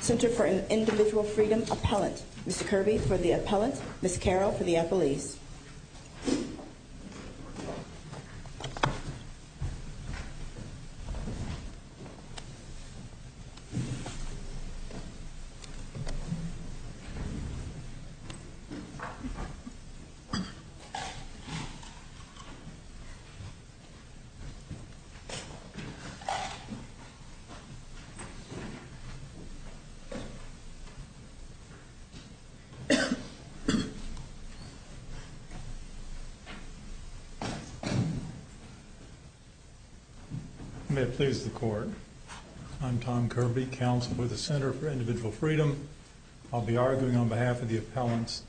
Center for Individual Freedom Appellant, Ms. Kerby for the Appellant, Ms. Carroll for the FEC Center for Individual Freedom Appellant, Mr. Carroll. May it please the Court, I'm Tom Kerby, Counsel with the Center for Individual Freedom. I'll be arguing on behalf of the appellants.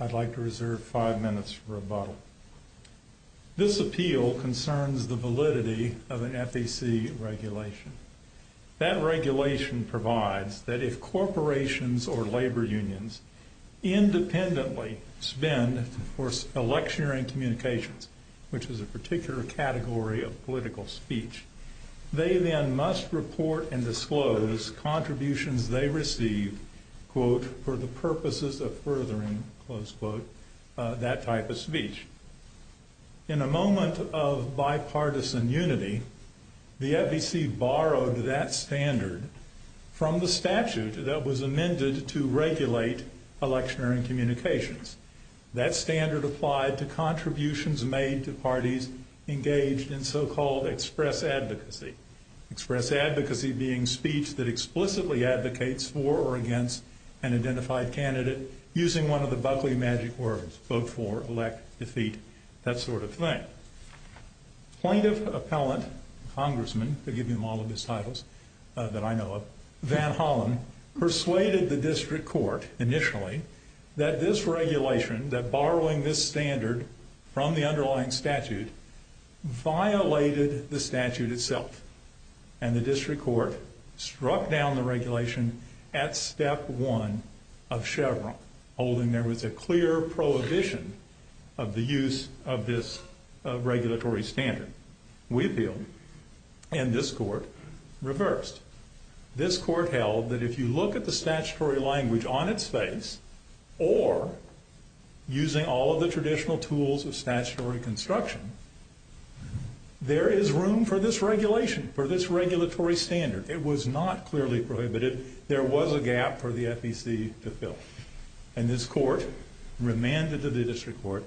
I'd like to reserve five minutes for rebuttal. This appeal concerns the validity of an FEC regulation. That regulation provides that if corporations or labor unions independently spend for election and communications, which is a particular category of political speech, they then must report and disclose contributions they receive, quote, for the purposes of furthering, close quote, that type of speech. In a moment of bipartisan unity, the FEC borrowed that standard from the statute that was amended to regulate election and communications. That standard applied to contributions made to parties engaged in so-called express advocacy. Express advocacy being speech that explicitly advocates for or against an identified candidate using one of the buggly magic words, vote for, elect, defeat, that sort of thing. Plaintiff appellant, congressman, forgive me all of his titles that I know of, Van Hollen persuaded the district court initially that this regulation, that borrowing this standard from the underlying statute, violated the statute itself. And the district court struck down the regulation at step one of Chevron, holding there was a clear prohibition of the use of this regulatory standard. We appealed, and this court reversed. This court held that if you look at the statutory language on its face or using all of the traditional tools of statutory construction, there is room for this regulation, for this regulatory standard. It was not clearly prohibited. There was a gap for the FEC to fill. And this court remanded to the district court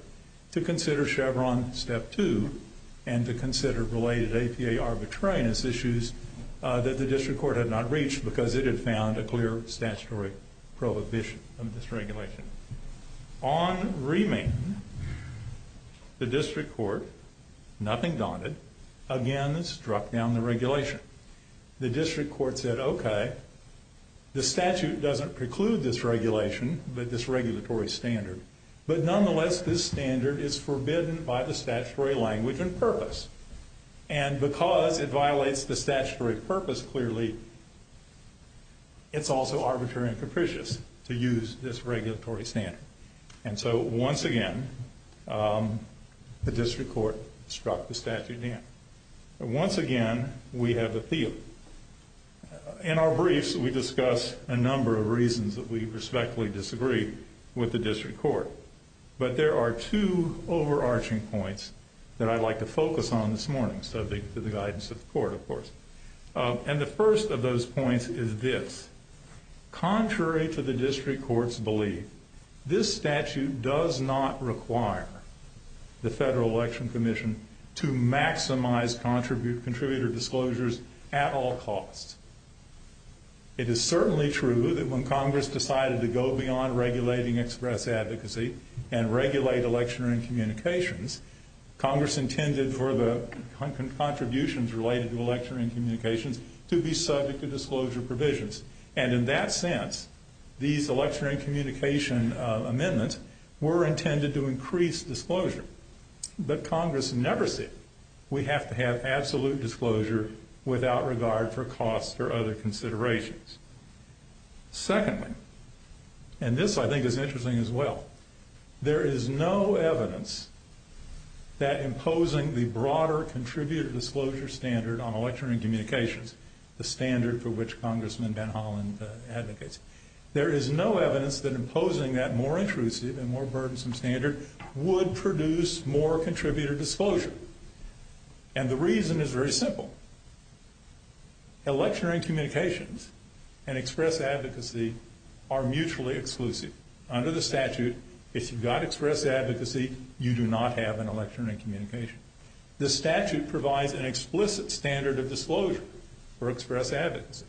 to consider Chevron step two and to consider related APA arbitrariness issues that the district court had not reached because it had found a clear statutory prohibition of this regulation. On remand, the district court, nothing daunted, again struck down the regulation. The district court said, okay, the statute doesn't preclude this regulation, this regulatory standard, but nonetheless this standard is forbidden by the statutory language and purpose. And because it violates the statutory purpose clearly, it's also arbitrary and capricious to use this regulatory standard. And so once again, the district court struck the statute down. Once again, we have appealed. In our briefs, we discuss a number of reasons that we respectfully disagree with the district court. But there are two overarching points that I'd like to focus on this morning, subject to the guidance of the court, of course. And the first of those points is this. Contrary to the district court's belief, this statute does not require the Federal Election Commission to maximize contributor disclosures at all costs. It is certainly true that when Congress decided to go beyond regulating express advocacy and regulate election and communications, Congress intended for the contributions related to election and communications to be subject to disclosure provisions. And in that sense, these election and communication amendments were intended to increase disclosure. But Congress never said, we have to have absolute disclosure without regard for costs or other considerations. Secondly, and this I think is interesting as well, there is no evidence that imposing the broader contributor disclosure standard on election and communications, the standard for which Congressman Van Hollen advocates, there is no evidence that imposing that more intrusive and more burdensome standard would produce more contributor disclosure. And the reason is very simple. Election and communications and express advocacy are mutually exclusive. Under the statute, if you've got express advocacy, you do not have an election and communication. The statute provides an explicit standard of disclosure for express advocacy,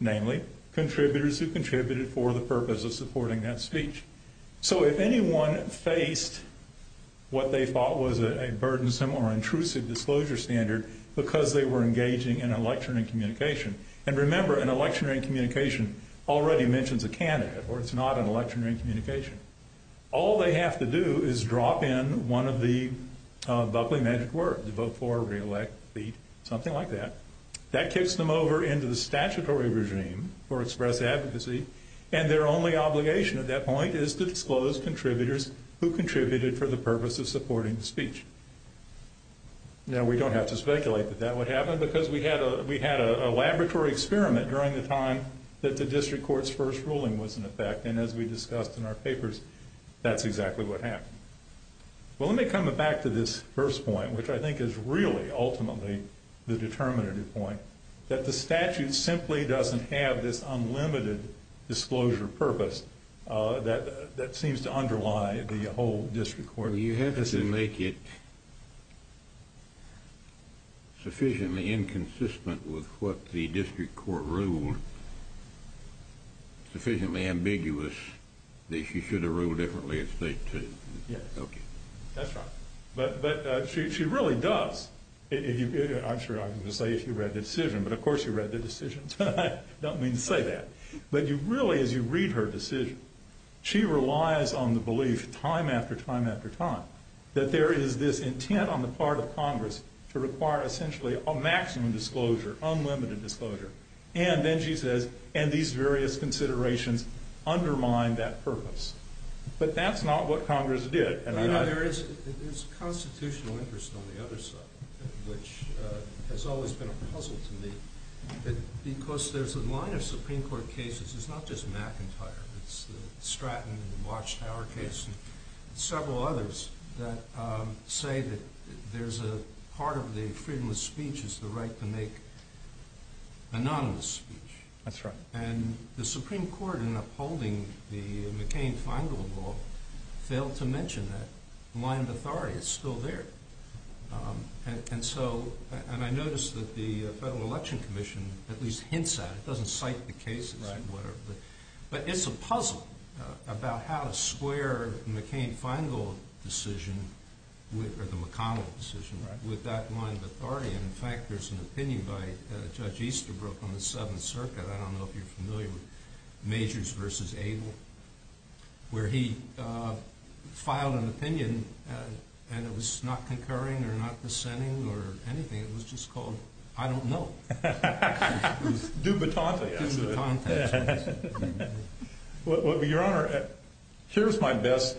namely contributors who contributed for the purpose of supporting that speech. So if anyone faced what they thought was a burdensome or intrusive disclosure standard because they were engaging in election and communication, and remember, an election and communication already mentions a candidate or it's not an election and communication. All they have to do is drop in one of the bubbly magic words, vote for, reelect, beat, something like that. That kicks them over into the statutory regime for express advocacy, and their only obligation at that point is to disclose contributors who contributed for the purpose of supporting the speech. Now we don't have to speculate that that would happen because we had a laboratory experiment during the time that the district court's first ruling was in effect, and as we discussed in our papers, that's exactly what happened. Well, let me come back to this first point, which I think is really ultimately the determinative point, that the statute simply doesn't have this unlimited disclosure purpose that seems to underlie the whole district court. You have to make it sufficiently inconsistent with what the district court ruled, sufficiently ambiguous that you should have ruled differently if they did. Yes. Okay. That's right. But she really does. I'm sure I can just say she read the decision, but of course she read the decisions. I don't mean to say that, but you really, as you read her decision, she relies on the belief time after time after time that there is this intent on the part of Congress to require essentially a maximum disclosure, unlimited disclosure, and then she says, and these various considerations undermine that purpose. But that's not what Congress did, and I... You know, there is constitutional interest on the other side, which has always been a puzzle to me, because there's a line of Supreme Court cases, it's not just McIntyre, it's the Stratton and the Watchtower case, and several others that say that there's a part of the freedom of speech is the right to make anonymous speech. That's right. And the Supreme Court, in upholding the McCain-Feingold law, failed to mention that line of authority is still there. And so... And I noticed that the Federal Election Commission at least hints at it, it doesn't cite the cases and whatever, but it's a puzzle about how to square McCain-Feingold decision, or the McConnell decision, with that line of authority, and in fact there's an opinion by Judge Easterbrook on the Seventh Circuit, I don't know if you're familiar with Majors v. Abel, where he filed an opinion, and it was not concurring or not dissenting or anything, it was just called, I don't know. Dubitante. Dubitante. Well, Your Honor, here's my best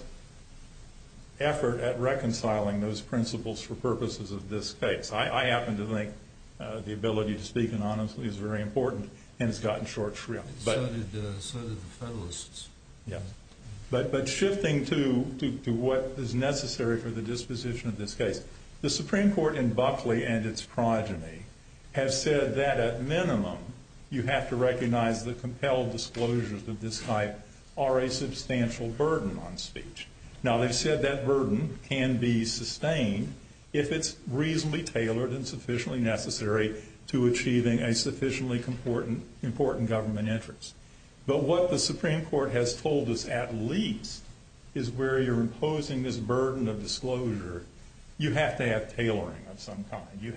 effort at reconciling those principles for purposes of this case. I happen to think the ability to speak anonymously is very important, and it's gotten short shrift. So did the Federalists. Yeah. But shifting to what is necessary for the disposition of this case, the Supreme Court in Buckley and its progeny have said that at minimum, you have to recognize the compelled disclosures of this type are a substantial burden on speech. Now they've said that burden can be sustained if it's reasonably tailored and sufficiently necessary to achieving a sufficiently important government interest. But what the Supreme Court has told us at least is where you're imposing this burden of disclosure, you have to have tailoring of some kind. You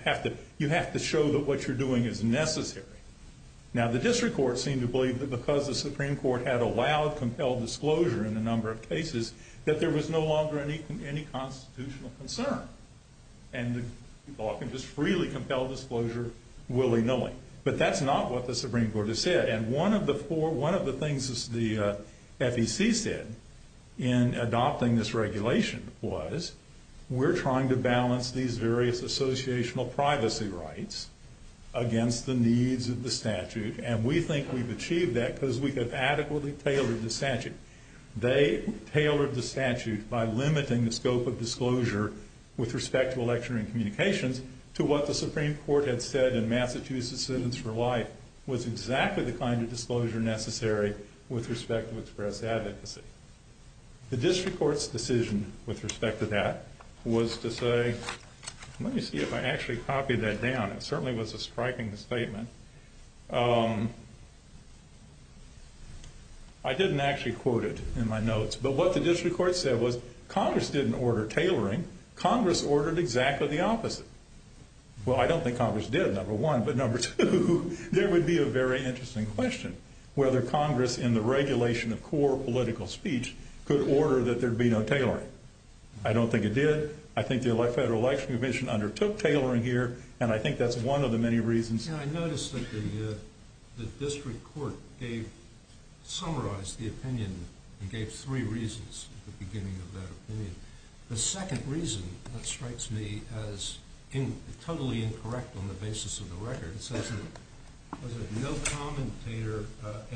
have to show that what you're doing is necessary. Now the District Court seemed to believe that because the Supreme Court had allowed compelled disclosure in a number of cases, that there was no longer any constitutional concern. And the people can just freely compel disclosure willy-nilly. But that's not what the Supreme Court has said. And one of the things the FEC said in adopting this regulation was, we're trying to balance these various associational privacy rights against the needs of the statute. And we think we've achieved that because we have adequately tailored the statute. They tailored the statute by limiting the scope of disclosure with respect to election and communications to what the Supreme Court had said in Massachusetts Citizens for Life was exactly the kind of disclosure necessary with respect to express advocacy. The District Court's decision with respect to that was to say, let me see if I actually copied that down. It certainly was a striking statement. I didn't actually quote it in my notes. But what the District Court said was, Congress didn't order tailoring, Congress ordered exactly the opposite. Well, I don't think Congress did, number one. But number two, there would be a very interesting question, whether Congress in the regulation of core political speech could order that there be no tailoring. I don't think it did. I think the Federal Election Commission undertook tailoring here, and I think that's one of the many reasons. And I noticed that the District Court summarized the opinion and gave three reasons at the beginning of that opinion. The second reason, that strikes me as totally incorrect on the basis of the record, it says that no commentator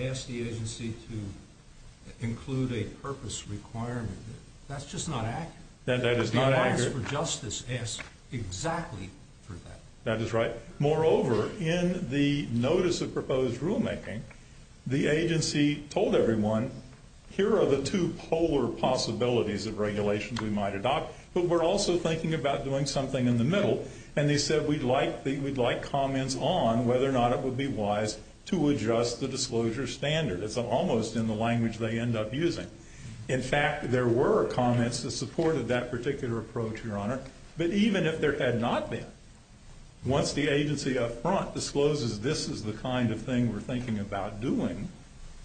asked the agency to include a purpose requirement. That's just not accurate. That is not accurate. The Alliance for Justice asked exactly for that. That is right. Moreover, in the notice of proposed rulemaking, the agency told everyone, here are the two polar possibilities of regulations we might adopt, but we're also thinking about doing something in the middle. And they said, we'd like comments on whether or not it would be wise to adjust the disclosure standard. It's almost in the language they end up using. In fact, there were comments that supported that particular approach, Your Honor. But even if there had not been, once the agency up front discloses this is the kind of thing we're thinking about doing,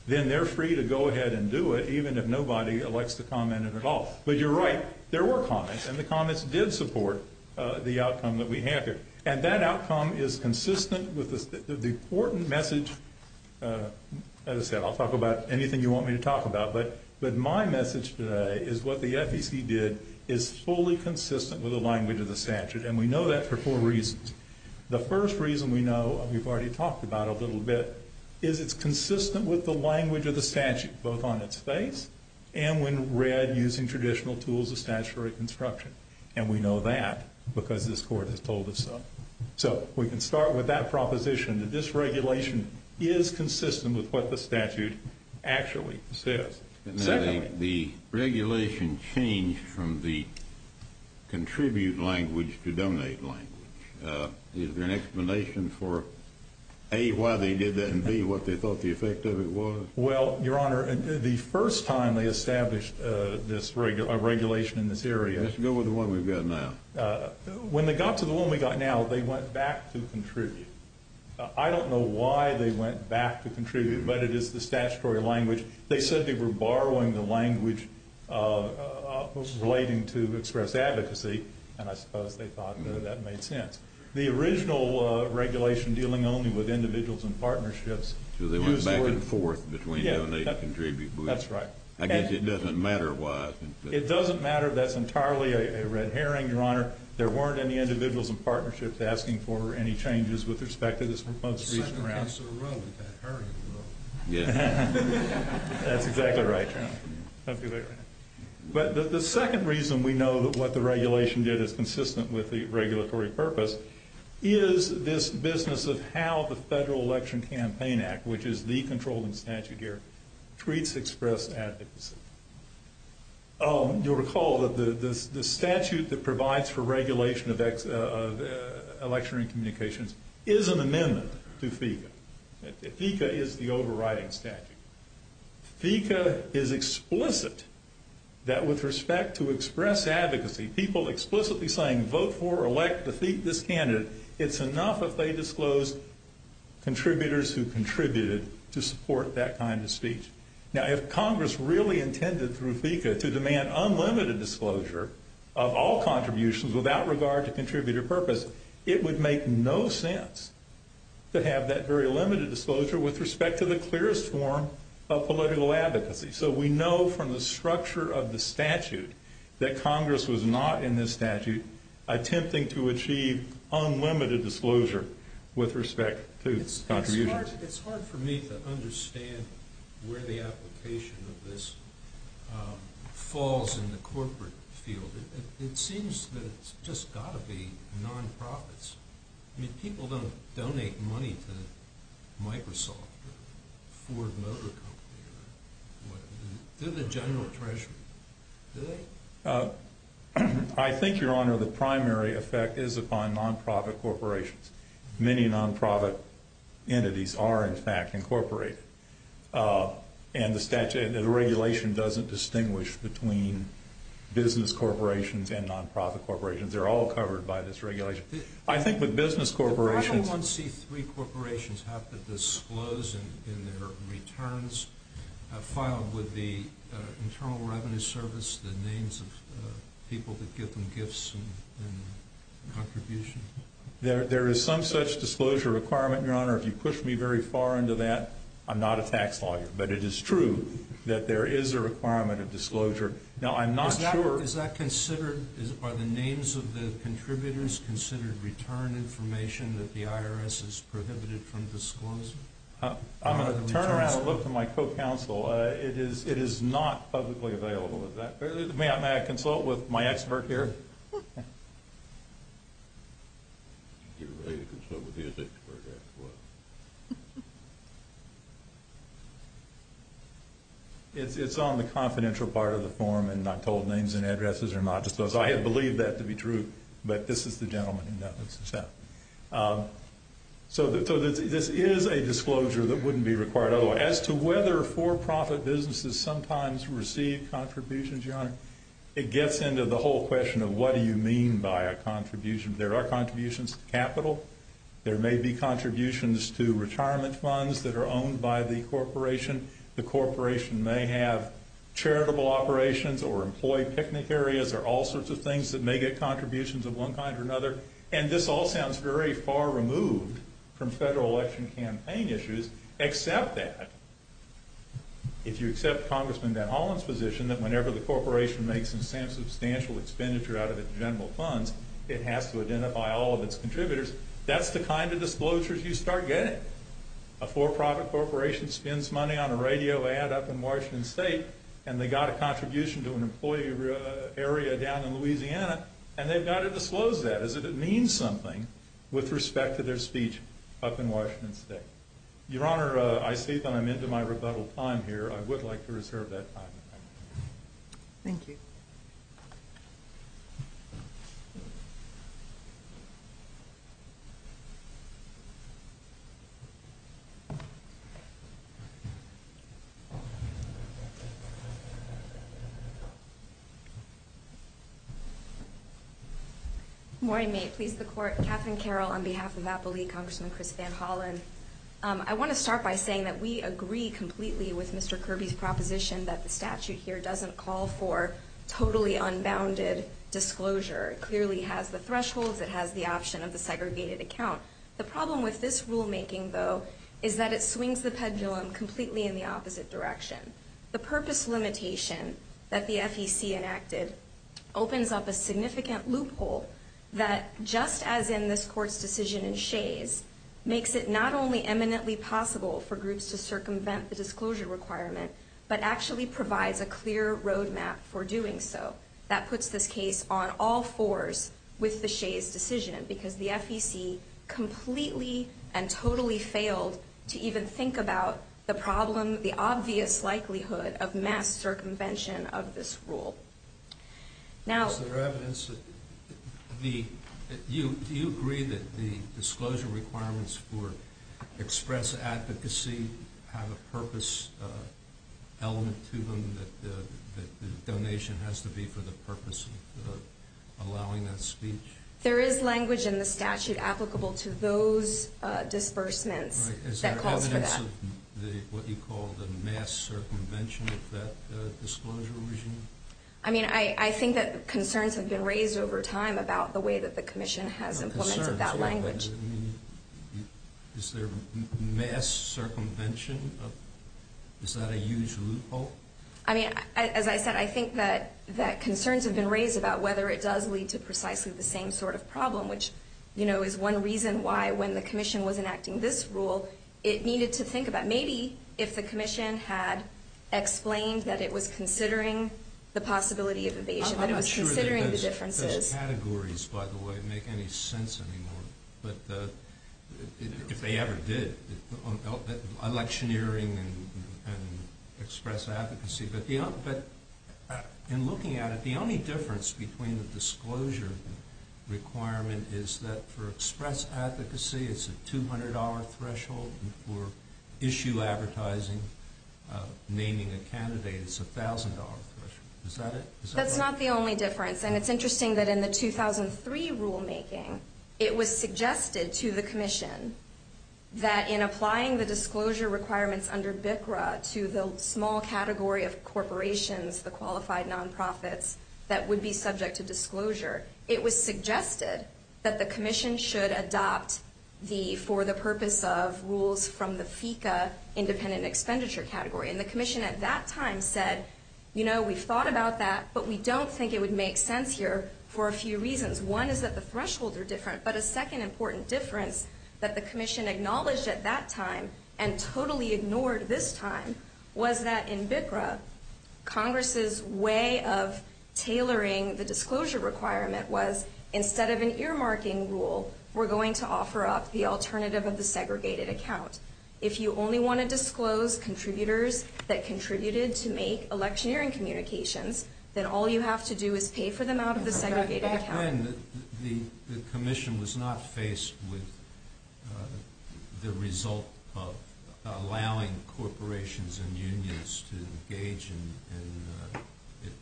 then they're free to go ahead and do it, even if nobody elects to comment at all. But you're right, there were comments, and the comments did support the outcome that we have here. And that outcome is consistent with the important message, as I said, I'll talk about anything you want me to talk about, but my message today is what the FEC did is fully consistent with the language of the statute. And we know that for four reasons. The first reason we know, we've already talked about a little bit, is it's consistent with the language of the statute, both on its face and when read using traditional tools of statutory construction. And we know that because this Court has told us so. So we can start with that proposition that this regulation is consistent with what the statute actually says. Secondly... The regulation changed from the contribute language to donate language. Is there an explanation for, A, why they did that, and B, what they thought the effect of it was? Well, Your Honor, the first time they established this regulation in this area... Let's go with the one we've got now. When they got to the one we've got now, they went back to contribute. I don't know why they went back to contribute, but it is the statutory language. They said they were borrowing the language relating to express advocacy, and I suppose they thought that made sense. The original regulation dealing only with individuals and partnerships... So they went back and forth between donate and contribute. That's right. I guess it doesn't matter why. That's entirely a red herring, Your Honor. There weren't any individuals and partnerships asking for any changes with respect to this proposed... The second piece of the rule is that herring rule. That's exactly right, Your Honor. That's exactly right. But the second reason we know that what the regulation did is consistent with the regulatory purpose is this business of how the Federal Election Campaign Act, which is the controlling statute here, treats expressed advocacy. You'll recall that the statute that provides for regulation of electionary communications is an amendment to FECA. FECA is the overriding statute. FECA is explicit that with respect to express advocacy, people explicitly saying, vote for or elect this candidate, it's enough if they disclose contributors who contributed to support that kind of speech. Now, if Congress really intended through FECA to demand unlimited disclosure of all contributions without regard to contributor purpose, it would make no sense to have that very limited disclosure with respect to the clearest form of political advocacy. So we know from the structure of the statute that Congress was not in this statute attempting to achieve unlimited disclosure with respect to contributions. It's hard for me to understand where the application of this falls in the corporate field. It seems that it's just got to be non-profits. I mean, people don't donate money to Microsoft or Ford Motor Company or whatever. They're the general treasury. Do they? I think, Your Honor, the primary effect is upon non-profit corporations. Many non-profit entities are, in fact, incorporated. And the regulation doesn't distinguish between business corporations and non-profit corporations. They're all covered by this regulation. I think with business corporations... Why do 1C3 corporations have to disclose in their returns filed with the Internal Revenue Service the names of people that give them gifts and contributions? There is some such disclosure requirement, Your Honor. If you push me very far into that, I'm not a tax lawyer. But it is true that there is a requirement of disclosure. Now, I'm not sure... Is that considered... Are the names of the contributors considered return information that the IRS has prohibited from disclosing? I'm going to turn around and look to my co-counsel. It is not publicly available. May I consult with my expert here? Get ready to consult with his expert afterwards. It's on the confidential part of the form. And I'm told names and addresses are not disclosed. I had believed that to be true. But this is the gentleman in that. So this is a disclosure that wouldn't be required otherwise. As to whether for-profit businesses sometimes receive contributions, Your Honor, it gets into the whole question of what do you mean by a contribution. There are contributions to capital. There may be contributions to retirement funds that are owned by the corporation. The corporation may have charitable operations or employee picnic areas or all sorts of things that may get contributions of one kind or another. And this all sounds very far removed from federal election campaign issues, except that if you accept Congressman Van Hollen's position that whenever the corporation makes substantial expenditure out of its general funds, it has to identify all of its contributors, that's the kind of disclosures you start getting. A for-profit corporation spends money on a radio ad up in Washington State and they got a contribution to an employee area down in Louisiana and they've got to disclose that as if it means something with respect to their speech up in Washington State. Your Honor, I see that I'm into my rebuttal time here. I would like to reserve that time. Thank you. Thank you. Good morning. May it please the Court. Katherine Carroll on behalf of Apple League, Congressman Chris Van Hollen. I want to start by saying that we agree completely with Mr. Kirby's proposition that the statute here doesn't call for totally unbounded disclosure. It clearly has the thresholds, it has the option of the segregated account. The problem with this rulemaking, though, is that it swings the pendulum completely in the opposite direction. The purpose limitation that the FEC enacted opens up a significant loophole that, just as in this Court's decision in Shays, makes it not only eminently possible for groups to circumvent the disclosure requirement, but actually provides a clear roadmap for doing so. That puts this case on all fours with the Shays decision because the FEC completely and totally failed to even think about the problem, the obvious likelihood of mass circumvention of this rule. Now... Is there evidence that the... Do you agree that the disclosure requirements for express advocacy have a purpose element to them, that the donation has to be for the purpose of allowing that speech? There is language in the statute applicable to those disbursements that calls for that. Is there evidence of what you call the mass circumvention of that disclosure regime? I mean, I think that concerns have been raised over time about the way that the Commission has implemented that language. You mean... Is there mass circumvention of... Is that a huge loophole? I mean, as I said, I think that concerns have been raised about whether it does lead to precisely the same sort of problem, which, you know, is one reason why, when the Commission was enacting this rule, it needed to think about, maybe, if the Commission had explained that it was considering the possibility of evasion, that it was considering the differences... I'm not sure that those categories, by the way, make any sense anymore. But if they ever did, on electioneering and express advocacy... But in looking at it, the only difference between the disclosure requirement is that for express advocacy it's a $200 threshold, and for issue advertising, naming a candidate, it's a $1,000 threshold. Is that it? That's not the only difference. And it's interesting that in the 2003 rulemaking, it was suggested to the Commission that in applying the disclosure requirements under BCRA to the small category of corporations, the qualified non-profits, that would be subject to disclosure. It was suggested that the Commission should adopt for the purpose of rules from the FECA independent expenditure category. And the Commission at that time said, you know, we've thought about that, but we don't think it would make sense here for a few reasons. One is that the thresholds are different, but a second important difference that the Commission acknowledged at that time and totally ignored this time was that in BCRA, Congress's way of tailoring the disclosure requirement was instead of an earmarking rule, we're going to offer up the alternative of the segregated account. If you only want to disclose contributors that contributed to make electioneering communications, then all you have to do is pay for them out of the segregated account. The Commission was not faced with the result of allowing corporations and unions to engage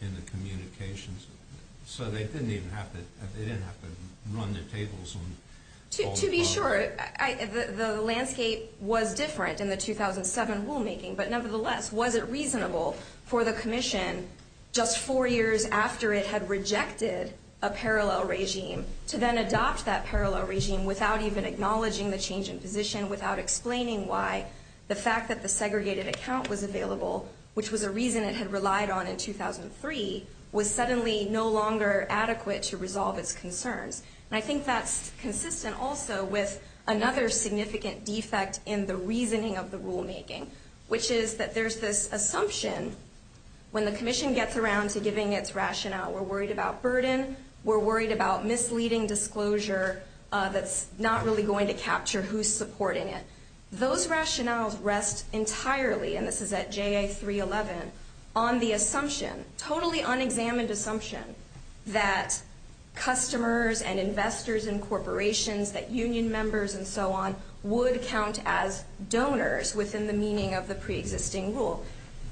in the communications. So they didn't even have to run their tables on... To be sure, the landscape was different in the 2007 rulemaking, but nevertheless, was it reasonable for the Commission, just four years after it had rejected a parallel regime, to then adopt that parallel regime without even acknowledging the change in position, without explaining why the fact that the segregated account was available, which was a reason it had relied on in 2003, was suddenly no longer adequate to resolve its concerns. And I think that's consistent also with another significant defect in the reasoning of the rulemaking, which is that there's this assumption when the Commission gets around to giving its rationale, we're worried about burden, we're worried about misleading disclosure that's not really going to capture who's supporting it. Those rationales rest entirely, and this is at JA 311, on the assumption, totally unexamined assumption, that customers and investors and corporations, that union members and so on, would count as donors within the meaning of the pre-existing rule.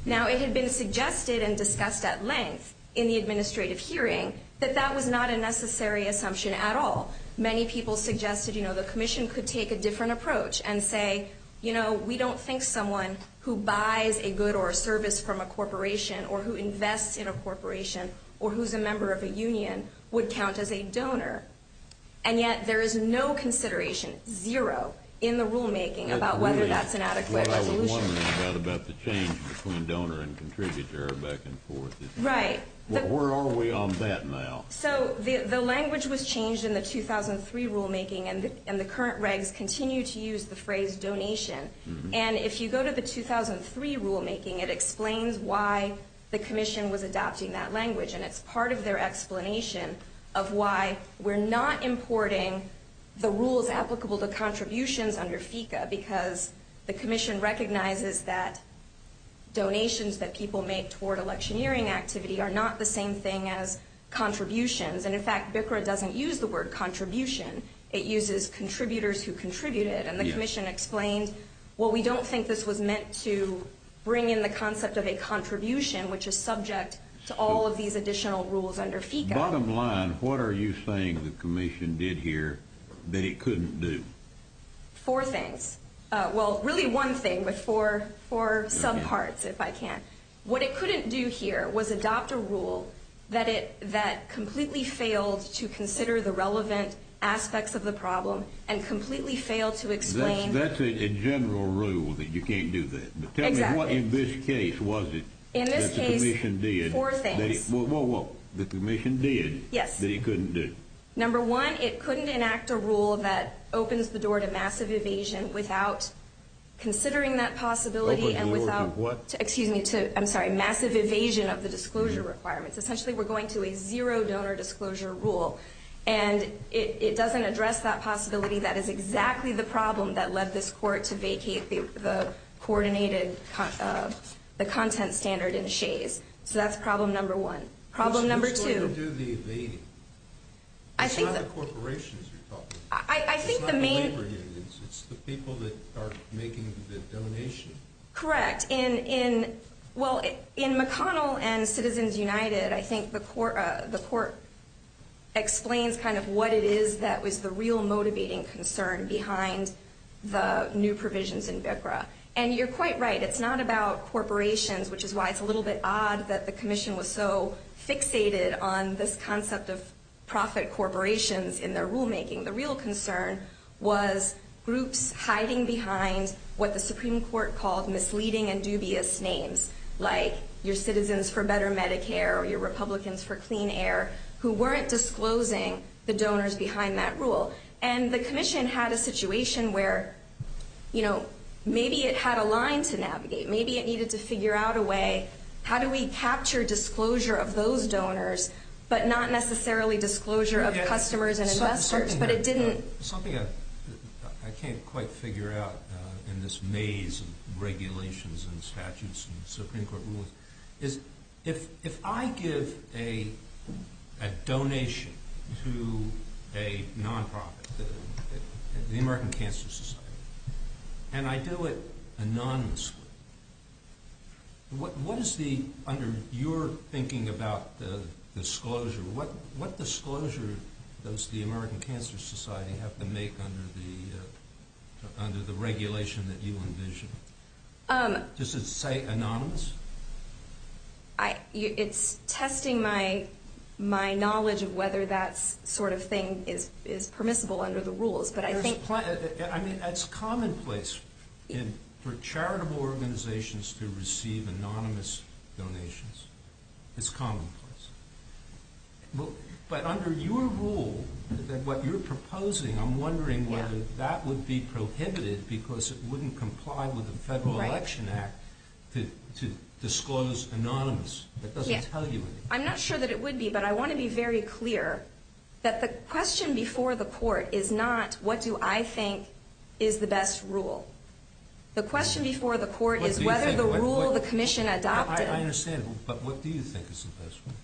Now, it had been suggested and discussed at length in the administrative hearing that that was not a necessary assumption at all. Many people suggested the Commission could take a different approach and say, you know, we don't think someone who buys a good or a service from a corporation or who invests in a corporation or who's a member of a union would count as a donor. And yet, there is no consideration, zero, in the rulemaking about whether that's an adequate resolution. I was wondering about the change between donor and contributor back and forth. Right. Where are we on that now? So, the language was changed in the 2003 rulemaking and the current regs continue to use the phrase donation. And if you go to the 2003 rulemaking, it explains why the Commission was adopting that language and it's part of their explanation of why we're not importing the rules applicable to contributions under FECA because the Commission recognizes that donations that people make toward electioneering activity are not the same thing as contributions. And in fact, BCRA doesn't use the word contribution. It uses contributors who contributed. And the Commission explained, well, we don't think this was meant to bring in the concept of a contribution, which is subject to all of these additional rules under FECA. Bottom line, what are you saying the Commission did here that it couldn't do? Four things. Well, really one thing with four subparts, if I can. What it couldn't do here was adopt a rule that completely failed to consider the relevant aspects of the problem and completely failed to explain... That's a general rule that you can't do that. But tell me what in this case was it that the Commission did? Four things. Well, what the Commission did that it couldn't do? Number one, it couldn't enact a rule that opens the door to massive evasion without considering that possibility and without... I'm sorry, massive evasion of the disclosure requirements. Essentially, we're going to a zero-donor disclosure rule and it doesn't address that possibility. That is exactly the problem that led this Court to vacate the coordinated content standard in Shays. So that's problem number one. Problem number two... Who's going to do the evading? It's not the corporations you're talking about. It's not the labor unions. It's the people that are making the donation. Correct. In McConnell and Citizens United, I think the Court explains kind of what it is that was the real motivating concern behind the new provisions in BCRA. And you're quite right. It's not about corporations, which is why it's a little bit odd that the Commission was so fixated on this concept of profit corporations in their rulemaking. The real concern was groups hiding behind what the Supreme Court called misleading and dubious names, like your Citizens for Better Medicare or your Republicans for Clean Air, who weren't disclosing the donors behind that rule. And the Commission had a situation where, you know, maybe it had a line to navigate. Maybe it needed to figure out a way how do we capture disclosure of those donors, but not necessarily disclosure of customers and investors, but it didn't... Something I can't quite figure out in this maze of regulations and statutes and Supreme Court rules is if I give a donation to a non-profit, the American Cancer Society, and I do it anonymously, what is the, under your thinking about the disclosure, what disclosure does the American Cancer Society have to make under the regulation that you envision? Does it say anonymous? It's testing my knowledge of whether that sort of thing is permissible under the rules, but I think... I mean, that's commonplace for charitable organizations to receive anonymous donations. It's commonplace. But under your rule, what you're proposing, I'm wondering whether that would be prohibited because it wouldn't comply with the Federal Election Act to disclose anonymous. That doesn't tell you anything. I'm not sure that it would be, but I want to be very clear that the question before the Court is not what do I think is the best rule. The question before the Court is whether the rule the Commission adopted... I understand, but what do you think is the best rule?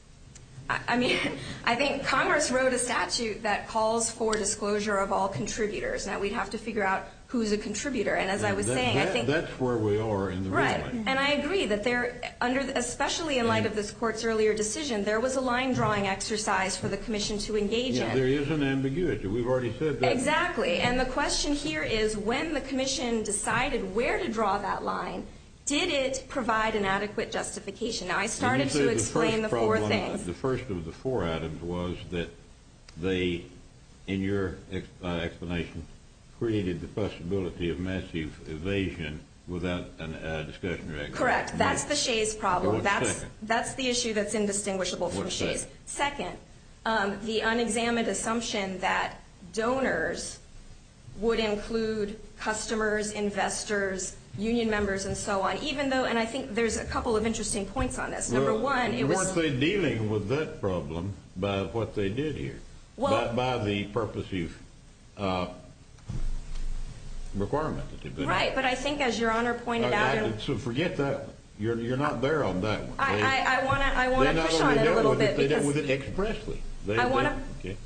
I think Congress wrote a statute that calls for disclosure of all contributors. Now, we'd have to figure out who's a contributor, and as I was saying, I think... That's where we are in the ruling. Right, and I agree that there, especially in light of this Court's earlier decision, there was a line-drawing exercise for the Commission to engage in. Yeah, there is an ambiguity. We've already said that. Exactly, and the question here is when the Commission decided where to draw that line, did it provide an adequate justification? Now, I started to explain the four things. The first of the four items was that they, in your explanation, created the possibility of massive evasion without a discussion... Correct. That's the Shays problem. That's the issue that's indistinguishable from Shays. What's that? Second, the unexamined assumption that donors would include customers, investors, union members, and so on, even though, and I think there's a couple of interesting points on this. Number one, it was... Weren't they dealing with that problem by what they did here? Well... By the purpose use requirement. Right, but I think as your Honor pointed out... So forget that. You're not there on that one. I want to push on it a little bit because... They dealt with it expressly. I want to...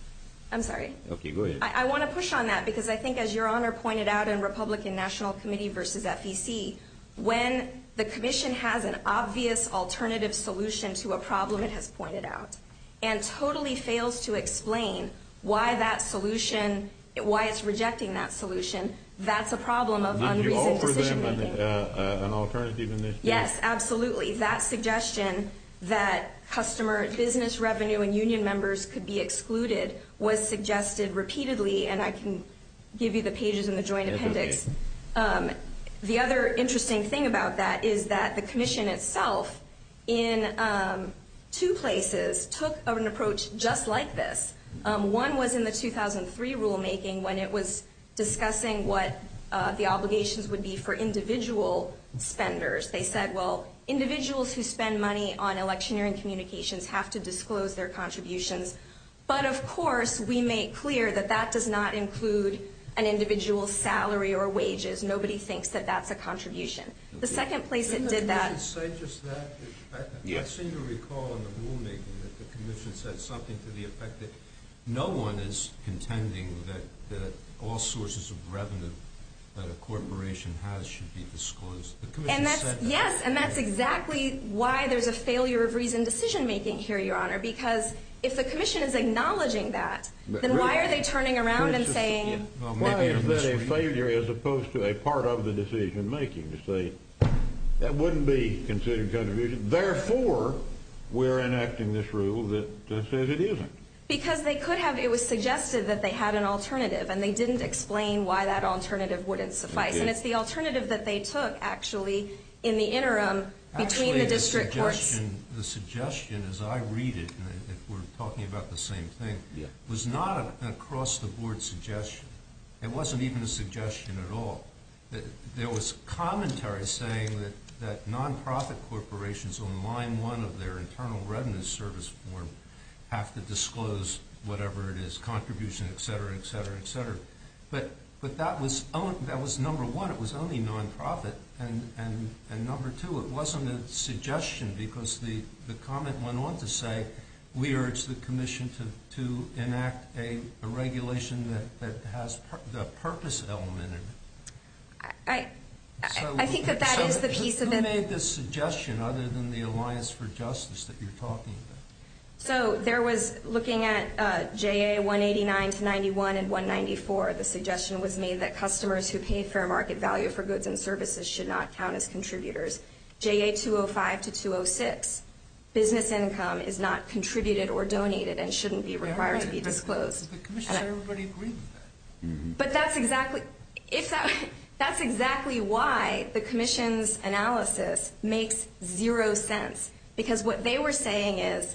I'm sorry. Okay, go ahead. I want to push on that because I think as your Honor pointed out in Republican National Committee versus FEC, when the Commission has an obvious alternative solution to a problem it has pointed out, and totally fails to explain why that solution, why it's rejecting that solution, that's a problem of unreasoned decision making. An alternative initiative? Yes, absolutely. That suggestion that customer business revenue and union members could be excluded was suggested repeatedly, and I can give you the pages in the Joint Appendix. The other interesting thing about that is that the Commission itself in two places took an approach just like this. One was in the 2003 rulemaking when it was discussing what the obligations would be for individual spenders. They said, well, individuals who spend money on electioneering communications have to disclose their contributions, but of course we make clear that that does not include an individual's salary or wages. Nobody thinks that that's a contribution. The second place it did that... Didn't the Commission say just that? Yes. I seem to recall in the rulemaking that the Commission said something to the effect that no one is contending that all sources of revenue that a corporation has should be disclosed. The Commission said that. Yes, and that's exactly why there's a failure of reasoned decision-making here, Your Honor, because if the Commission is acknowledging that, then why are they turning around and saying... Why is there a failure as opposed to a part of the decision-making to say that wouldn't be considered contribution, therefore we're enacting this rule that says it isn't? Because they could have... And they didn't explain why that alternative wouldn't suffice. And it's the alternative that they took, actually, in the interim between the district courts. Actually, the suggestion, as I read it, if we're talking about the same thing, was not an across-the-board suggestion. It wasn't even a suggestion at all. There was commentary saying that non-profit corporations on line one of their internal revenue service form have to disclose whatever it is, contribution, et cetera, et cetera, et cetera. But that was number one. It was only non-profit. And number two, it wasn't a suggestion because the comment went on to say we urge the Commission to enact a regulation that has the purpose element in it. I think that that is the piece of it. Who made this suggestion, other than the Alliance for Justice that you're talking about? So, there was looking at JA 189 to 91 and 194, the suggestion was made that customers who pay fair market value for goods and services should not count as contributors. JA 205 to 206, business income is not contributed or donated and shouldn't be required to be disclosed. But that's exactly why the Commission's analysis makes zero sense. Because what they were saying is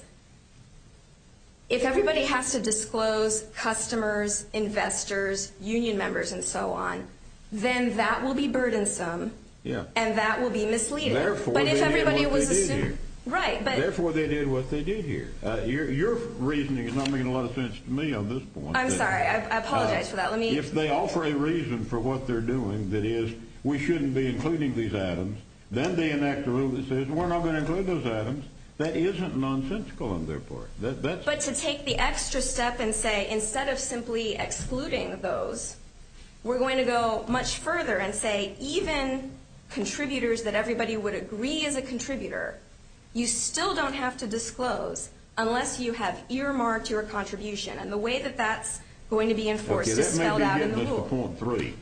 if everybody has to disclose customers, investors, union members, and so on, then that will be burdensome and that will be misleading. Therefore, they did what they did here. Right. Therefore, they did what they did here. Your reasoning is not making a lot of sense to me on this point. I'm sorry. I apologize for that. If they offer a reason for what they're doing, that is we shouldn't be including these items, then they enact a rule that says we're not going to include those items. That isn't nonsensical on their part. But to take the extra step and say instead of simply excluding those, we're going to go much further and say even contributors that everybody would agree is a contributor, you still don't have to disclose unless you have earmarked your contribution. And the way that that's going to be enforced is spelled out in the law. Okay, that may be getting us to point three.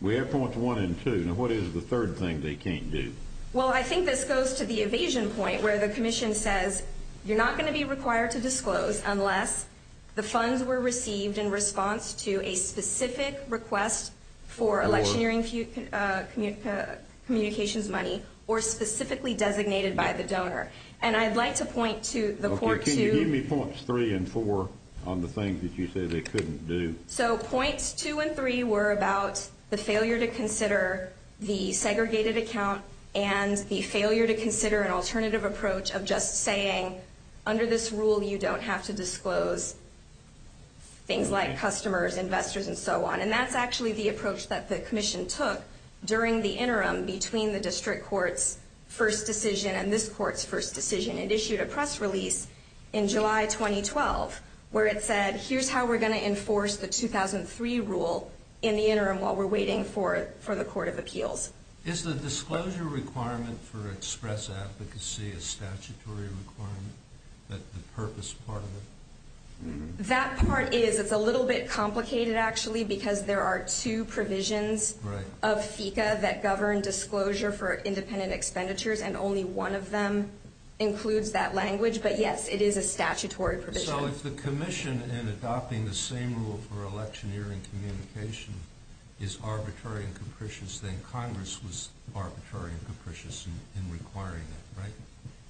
We have points one and two. Now what is the third thing they can't do? Well, I think this goes to the evasion point where the commission says you're not going to be required to disclose unless the funds were received in response to a specific request for electioneering communications money or specifically designated by the donor. And I'd like to point to the court to... Okay, can you give me points three and four on the things that you say they couldn't do? So points two and three were about the failure to account and the failure to consider an alternative approach of just saying under this rule you don't have to disclose things like customers, investors and so on. And that's actually the approach that the commission took during the interim between the district court's first decision and this court's first decision. It issued a press release in July 2012 where it said here's how we're going to enforce the 2003 rule in the interim while we're waiting for the court of appeals. Is the disclosure requirement for express advocacy a statutory requirement? The purpose part of it? That part is. It's a little bit complicated actually because there are two provisions of FECA that govern disclosure for independent expenditures and only one of them includes that language. But yes it is a statutory provision. So if the commission in adopting the same rule for electioneering communication is arbitrary and capricious then Congress was arbitrary and capricious in requiring it, right?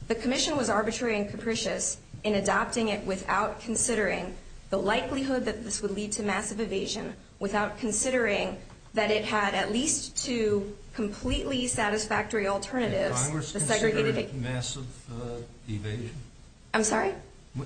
The commission was arbitrary and capricious in adopting it without considering the likelihood that this would lead to massive evasion without considering that it had at least two completely satisfactory alternatives. Did Congress consider it massive evasion? I'm sorry?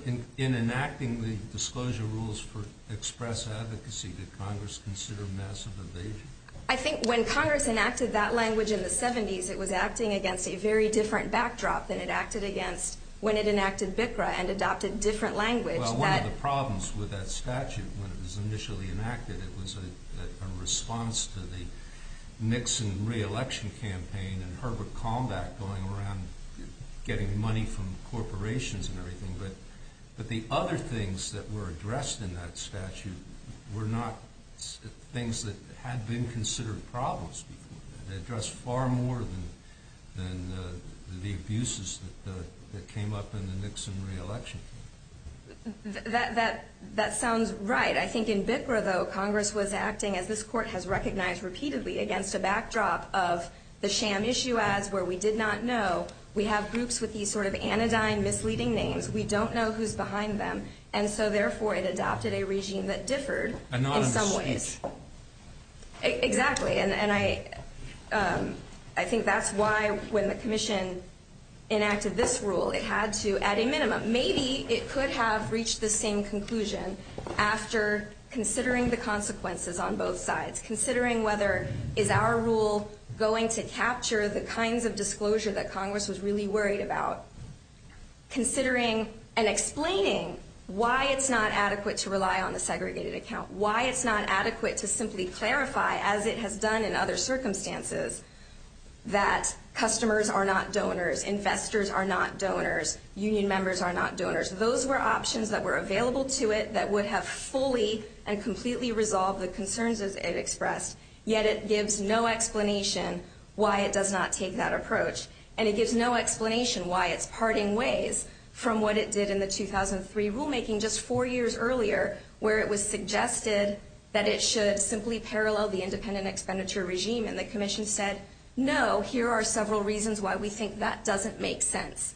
In enacting the disclosure rules for express advocacy, did Congress consider massive evasion? I think when Congress enacted that language in the 70s it was acting against a very different backdrop than it acted against when it enacted BCRA and adopted different language. Well one of the problems with that statute when it was initially enacted it was a response to the Nixon re-election campaign and Herbert Kalmbach going around getting money from corporations and everything but the other things that were addressed in that statute were not things that had been considered problems before. They addressed far more than the abuses that came up in the Nixon re-election. That sounds right. I think in BCRA though Congress was acting as this court has recognized repeatedly against a backdrop of the sham issue ads where we did not know we have groups with these sort of anodyne misleading names. We don't know who's behind them and so therefore it adopted a regime that differed in some ways. Exactly. I think that's why when the commission enacted this rule it had to at a minimum, maybe it could have reached the same conclusion after considering the consequences on both sides. Considering whether is our rule going to capture the kinds of disclosure that Congress was really worried about. Considering and explaining why it's not adequate to rely on the segregated account. Why it's not adequate to simply clarify as it has done in other circumstances that customers are not donors, investors are not donors, union members are not donors. Those were options that were available to it that would have fully and completely resolved the concerns it expressed. Yet it gives no explanation why it does not take that approach and it gives no explanation why it's parting ways from what it did in the 2003 rulemaking just four years earlier where it was suggested that it should simply parallel the independent expenditure regime and the commission said no, here are several reasons why we think that doesn't make sense.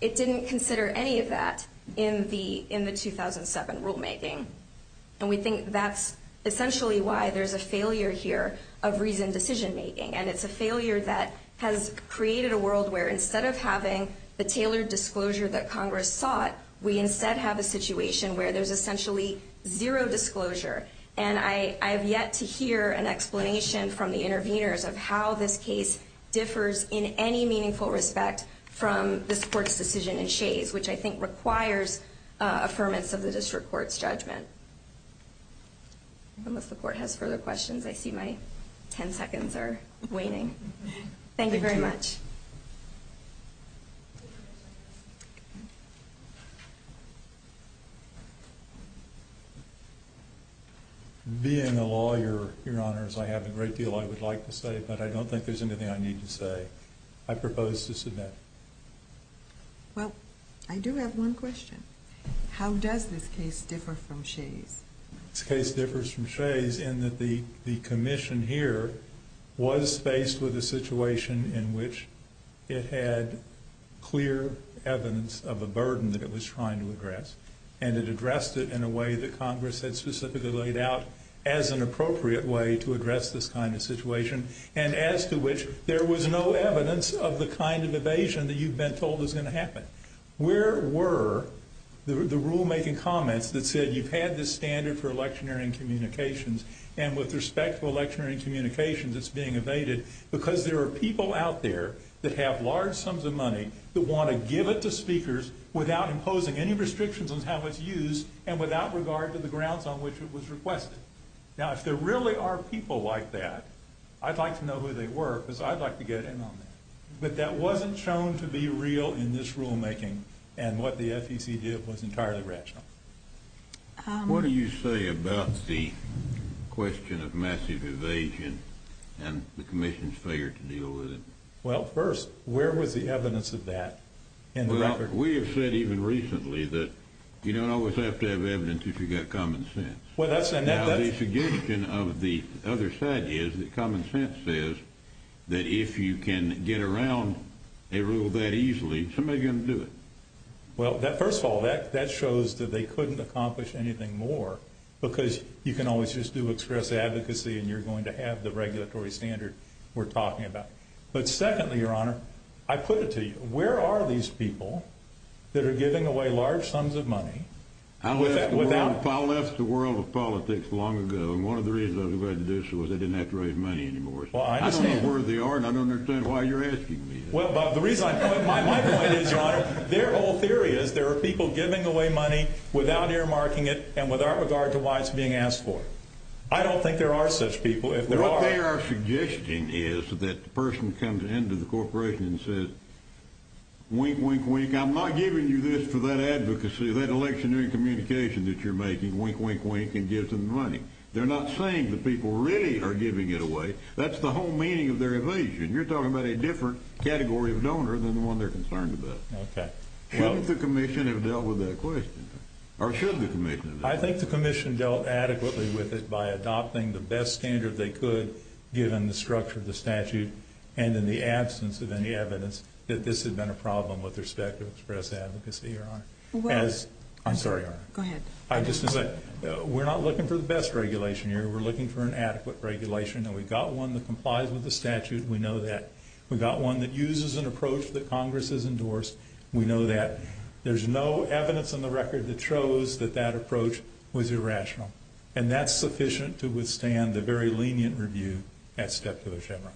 It didn't consider any of that in the 2007 rulemaking and we think that's essentially why there's a failure here of reasoned decision making and it's a world where instead of having the tailored disclosure that Congress sought, we instead have a situation where there's essentially zero disclosure and I have yet to hear an explanation from the interveners of how this case differs in any meaningful respect from this court's decision in Shays, which I think requires affirmance of the district court's judgment. Unless the court has further questions, I see my ten seconds are up. Thank you very much. Being a lawyer, your honors, I have a great deal I would like to say, but I don't think there's anything I need to say. I propose to submit. Well, I do have one question. How does this case differ from Shays? This case differs from Shays in that the commission here was faced with a situation in which it had clear evidence of a burden that it was trying to address and it addressed it in a way that Congress had specifically laid out as an appropriate way to address this kind of situation and as to which there was no evidence of the kind of evasion that you've been told is going to happen. Where were the rulemaking comments that said you've had this standard for electioneering communications and with respect to electioneering communications, it's being evaded because there are people out there that have large sums of money that want to give it to speakers without imposing any restrictions on how it's used and without regard to the grounds on which it was requested. Now, if there really are people like that, I'd like to know who they were because I'd like to get in on that. But that wasn't shown to be real in this rulemaking and what the FEC did was entirely rational. What do you say about the question of massive evasion and the Commission's failure to deal with it? Well, first, where was the evidence of that in the record? Well, we have said even recently that you don't always have to have evidence if you've got common sense. The suggestion of the other side is that common sense says that if you can get around a rule that easily, somebody's going to do it. Well, first of all, that shows that they couldn't accomplish anything more because you can always just do express advocacy and you're going to have the regulatory standard we're talking about. But secondly, Your Honor, I put it to you, where are these people that are giving away large sums of money? I left the world of politics long ago and one of the reasons I was invited to do so was I didn't have to raise money anymore. I don't know where they are and I don't understand why you're asking me that. My point is, Your Honor, their whole theory is there are people giving away money without earmarking it and without regard to why it's being asked for. I don't think there are such people. What they are suggesting is that the person comes in to the corporation and says, wink, wink, wink, I'm not giving you this for that advocacy, that electionary communication that you're making, wink, wink, wink, and gives them money. They're not saying the people really are giving it away. That's the whole meaning of their evasion. You're talking about a different category of donor than the one they're concerned about. Shouldn't the commission have dealt with that question? Or should the commission have dealt with it? I think the commission dealt adequately with it by adopting the best standard they could given the structure of the statute and in the absence of any evidence that this had been a problem with respect to express advocacy, Your Honor. I'm sorry, Your Honor. Go ahead. We're not looking for the best regulation here. We're looking for an adequate regulation and we've got one that complies with the statute. We know that. We've got one that uses an approach that Congress has endorsed. We know that. There's no evidence on the record that shows that that approach was irrational. And that's sufficient to withstand the very lenient review at Step to the Chamber.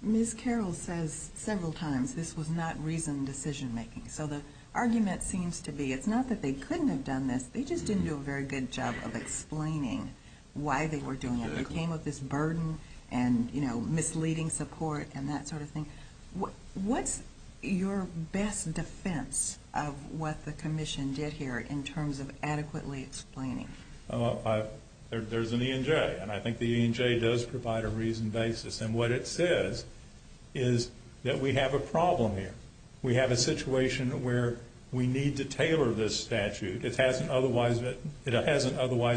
Ms. Carroll says several times this was not reasoned decision making. So the argument seems to be, it's not that they couldn't have done this, they just didn't do a very good job of explaining why they were doing it. They came with this burden and misleading support and that sort of thing. What's your best defense of what the Commission did here in terms of adequately explaining? There's an E&J and I think the E&J does provide a reasoned basis and what it says is that we have a problem here. We have a situation where we need to tailor this statute. It hasn't otherwise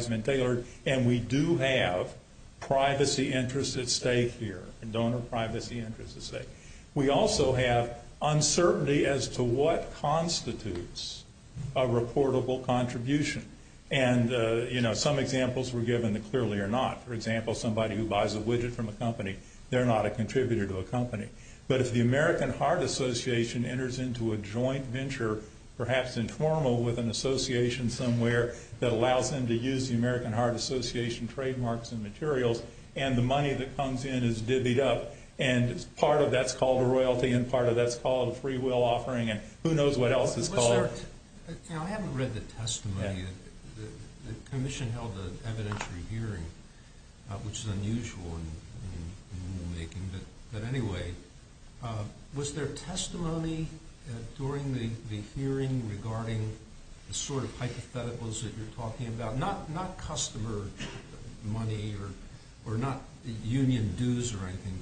been tailored and we do have privacy interests at stake here. Donor privacy interests at stake. We also have uncertainty as to what constitutes a reportable contribution. And some examples were given that clearly are not. For example, somebody who buys a widget from a company, they're not a contributor to a company. But if the American Heart Association enters into a joint venture, perhaps informal with an association somewhere that allows them to use the American Heart Association trademarks and materials and the money that comes in is divvied up and part of that is called a royalty and part of that is called a free will offering and who knows what else is called. I haven't read the testimony. The Commission held an evidentiary hearing which is unusual in rule making. But anyway, was there testimony during the hearing regarding the sort of hypotheticals that you're talking about? Not customer money or not union dues or anything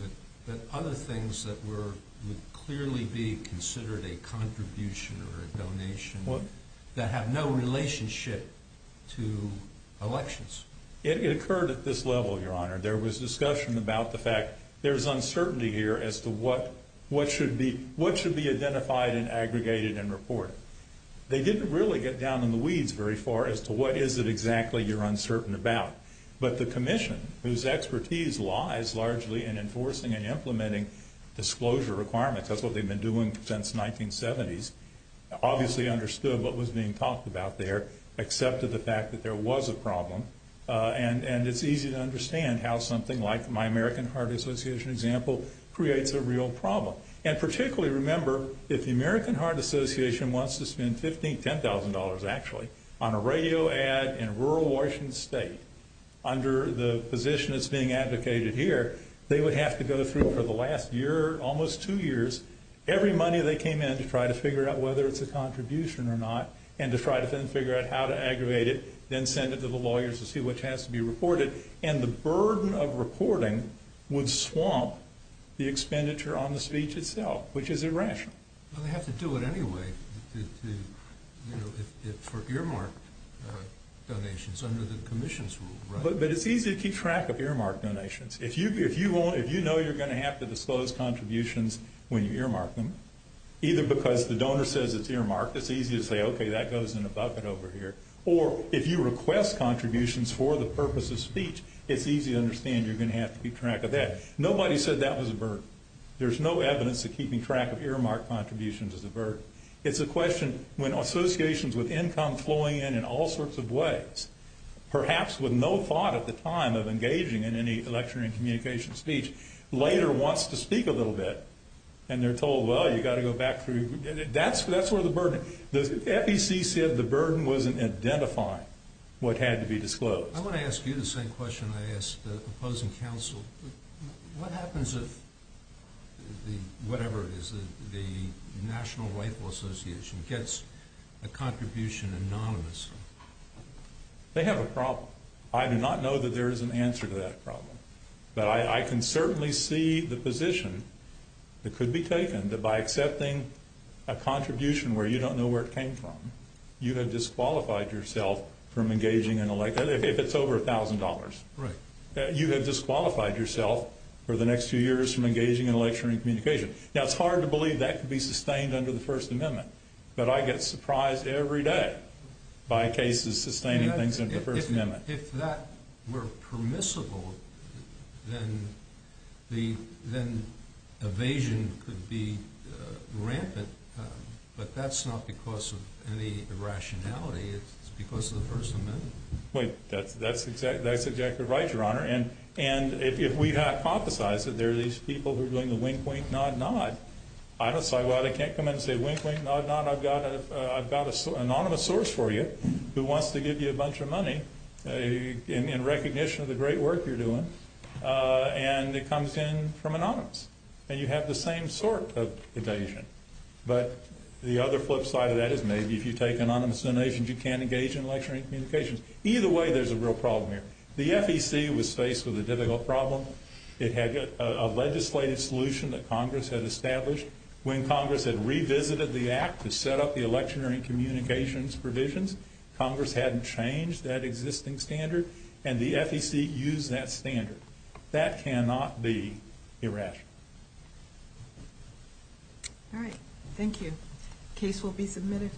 but other things that were clearly being considered a contribution or a donation that have no relationship to elections? It occurred at this level, Your Honor. There was discussion about the fact there's uncertainty here as to what should be identified and aggregated and down in the weeds very far as to what is it exactly you're uncertain about. But the Commission, whose expertise lies largely in enforcing and implementing disclosure requirements, that's what they've been doing since the 1970s, obviously understood what was being talked about there except for the fact that there was a problem and it's easy to understand how something like my American Heart Association example creates a real problem and particularly remember, if the American Heart Association wants to spend $15,000, $10,000 actually, on a radio ad in a rural Washington state under the position that's being advocated here, they would have to go through for the last year, almost two years every money they came in to try to figure out whether it's a contribution or not and to try to then figure out how to aggravate it, then send it to the lawyers to see what has to be reported and the burden of reporting would swamp the expenditure on the speech itself, which is irrational. Well, they have to do it anyway for earmarked donations under the Commission's rule, right? But it's easy to keep track of earmarked donations if you know you're going to have to disclose contributions when you earmark them, either because the donor says it's earmarked, it's easy to say okay, that goes in a bucket over here or if you request contributions for the purpose of speech, it's easy to understand you're going to have to keep track of that nobody said that was a burden there's no evidence of keeping track of earmarked contributions as a burden it's a question, when associations with income flowing in in all sorts of ways perhaps with no thought at the time of engaging in any election and communication speech, later wants to speak a little bit and they're told, well, you've got to go back through that's where the burden the FEC said the burden wasn't identifying what had to be disclosed I want to ask you the same question I asked the opposing counsel what happens if whatever it is the National Waifu Association gets a contribution anonymously they have a problem I do not know that there is an answer to that problem, but I can certainly see the position that could be taken, that by accepting a contribution where you don't know where it came from, you have disqualified yourself from engaging in an election, if it's over a thousand dollars you have disqualified yourself for the next few years from engaging in election and communication, now it's hard to believe that could be sustained under the First Amendment but I get surprised every day by cases sustaining things under the First Amendment If that were permissible then the, then evasion could be rampant but that's not because of any irrationality it's because of the First Amendment Wait, that's exactly right your honor, and if we hypothesize that there are these people who are doing the wink wink nod nod I don't say well they can't come in and say wink wink nod nod, I've got a anonymous source for you, who wants to give you a bunch of money in recognition of the great work you're doing and it comes in from anonymous, and you have the same sort of evasion but the other flip side of that is maybe if you take anonymous donations you can't engage in election and communications either way there's a real problem here the FEC was faced with a difficult problem it had a legislative solution that Congress had established when Congress had revisited the act to set up the election and communications provisions, Congress hadn't changed that existing standard and the FEC used that standard that cannot be irrational alright thank you, case will be submitted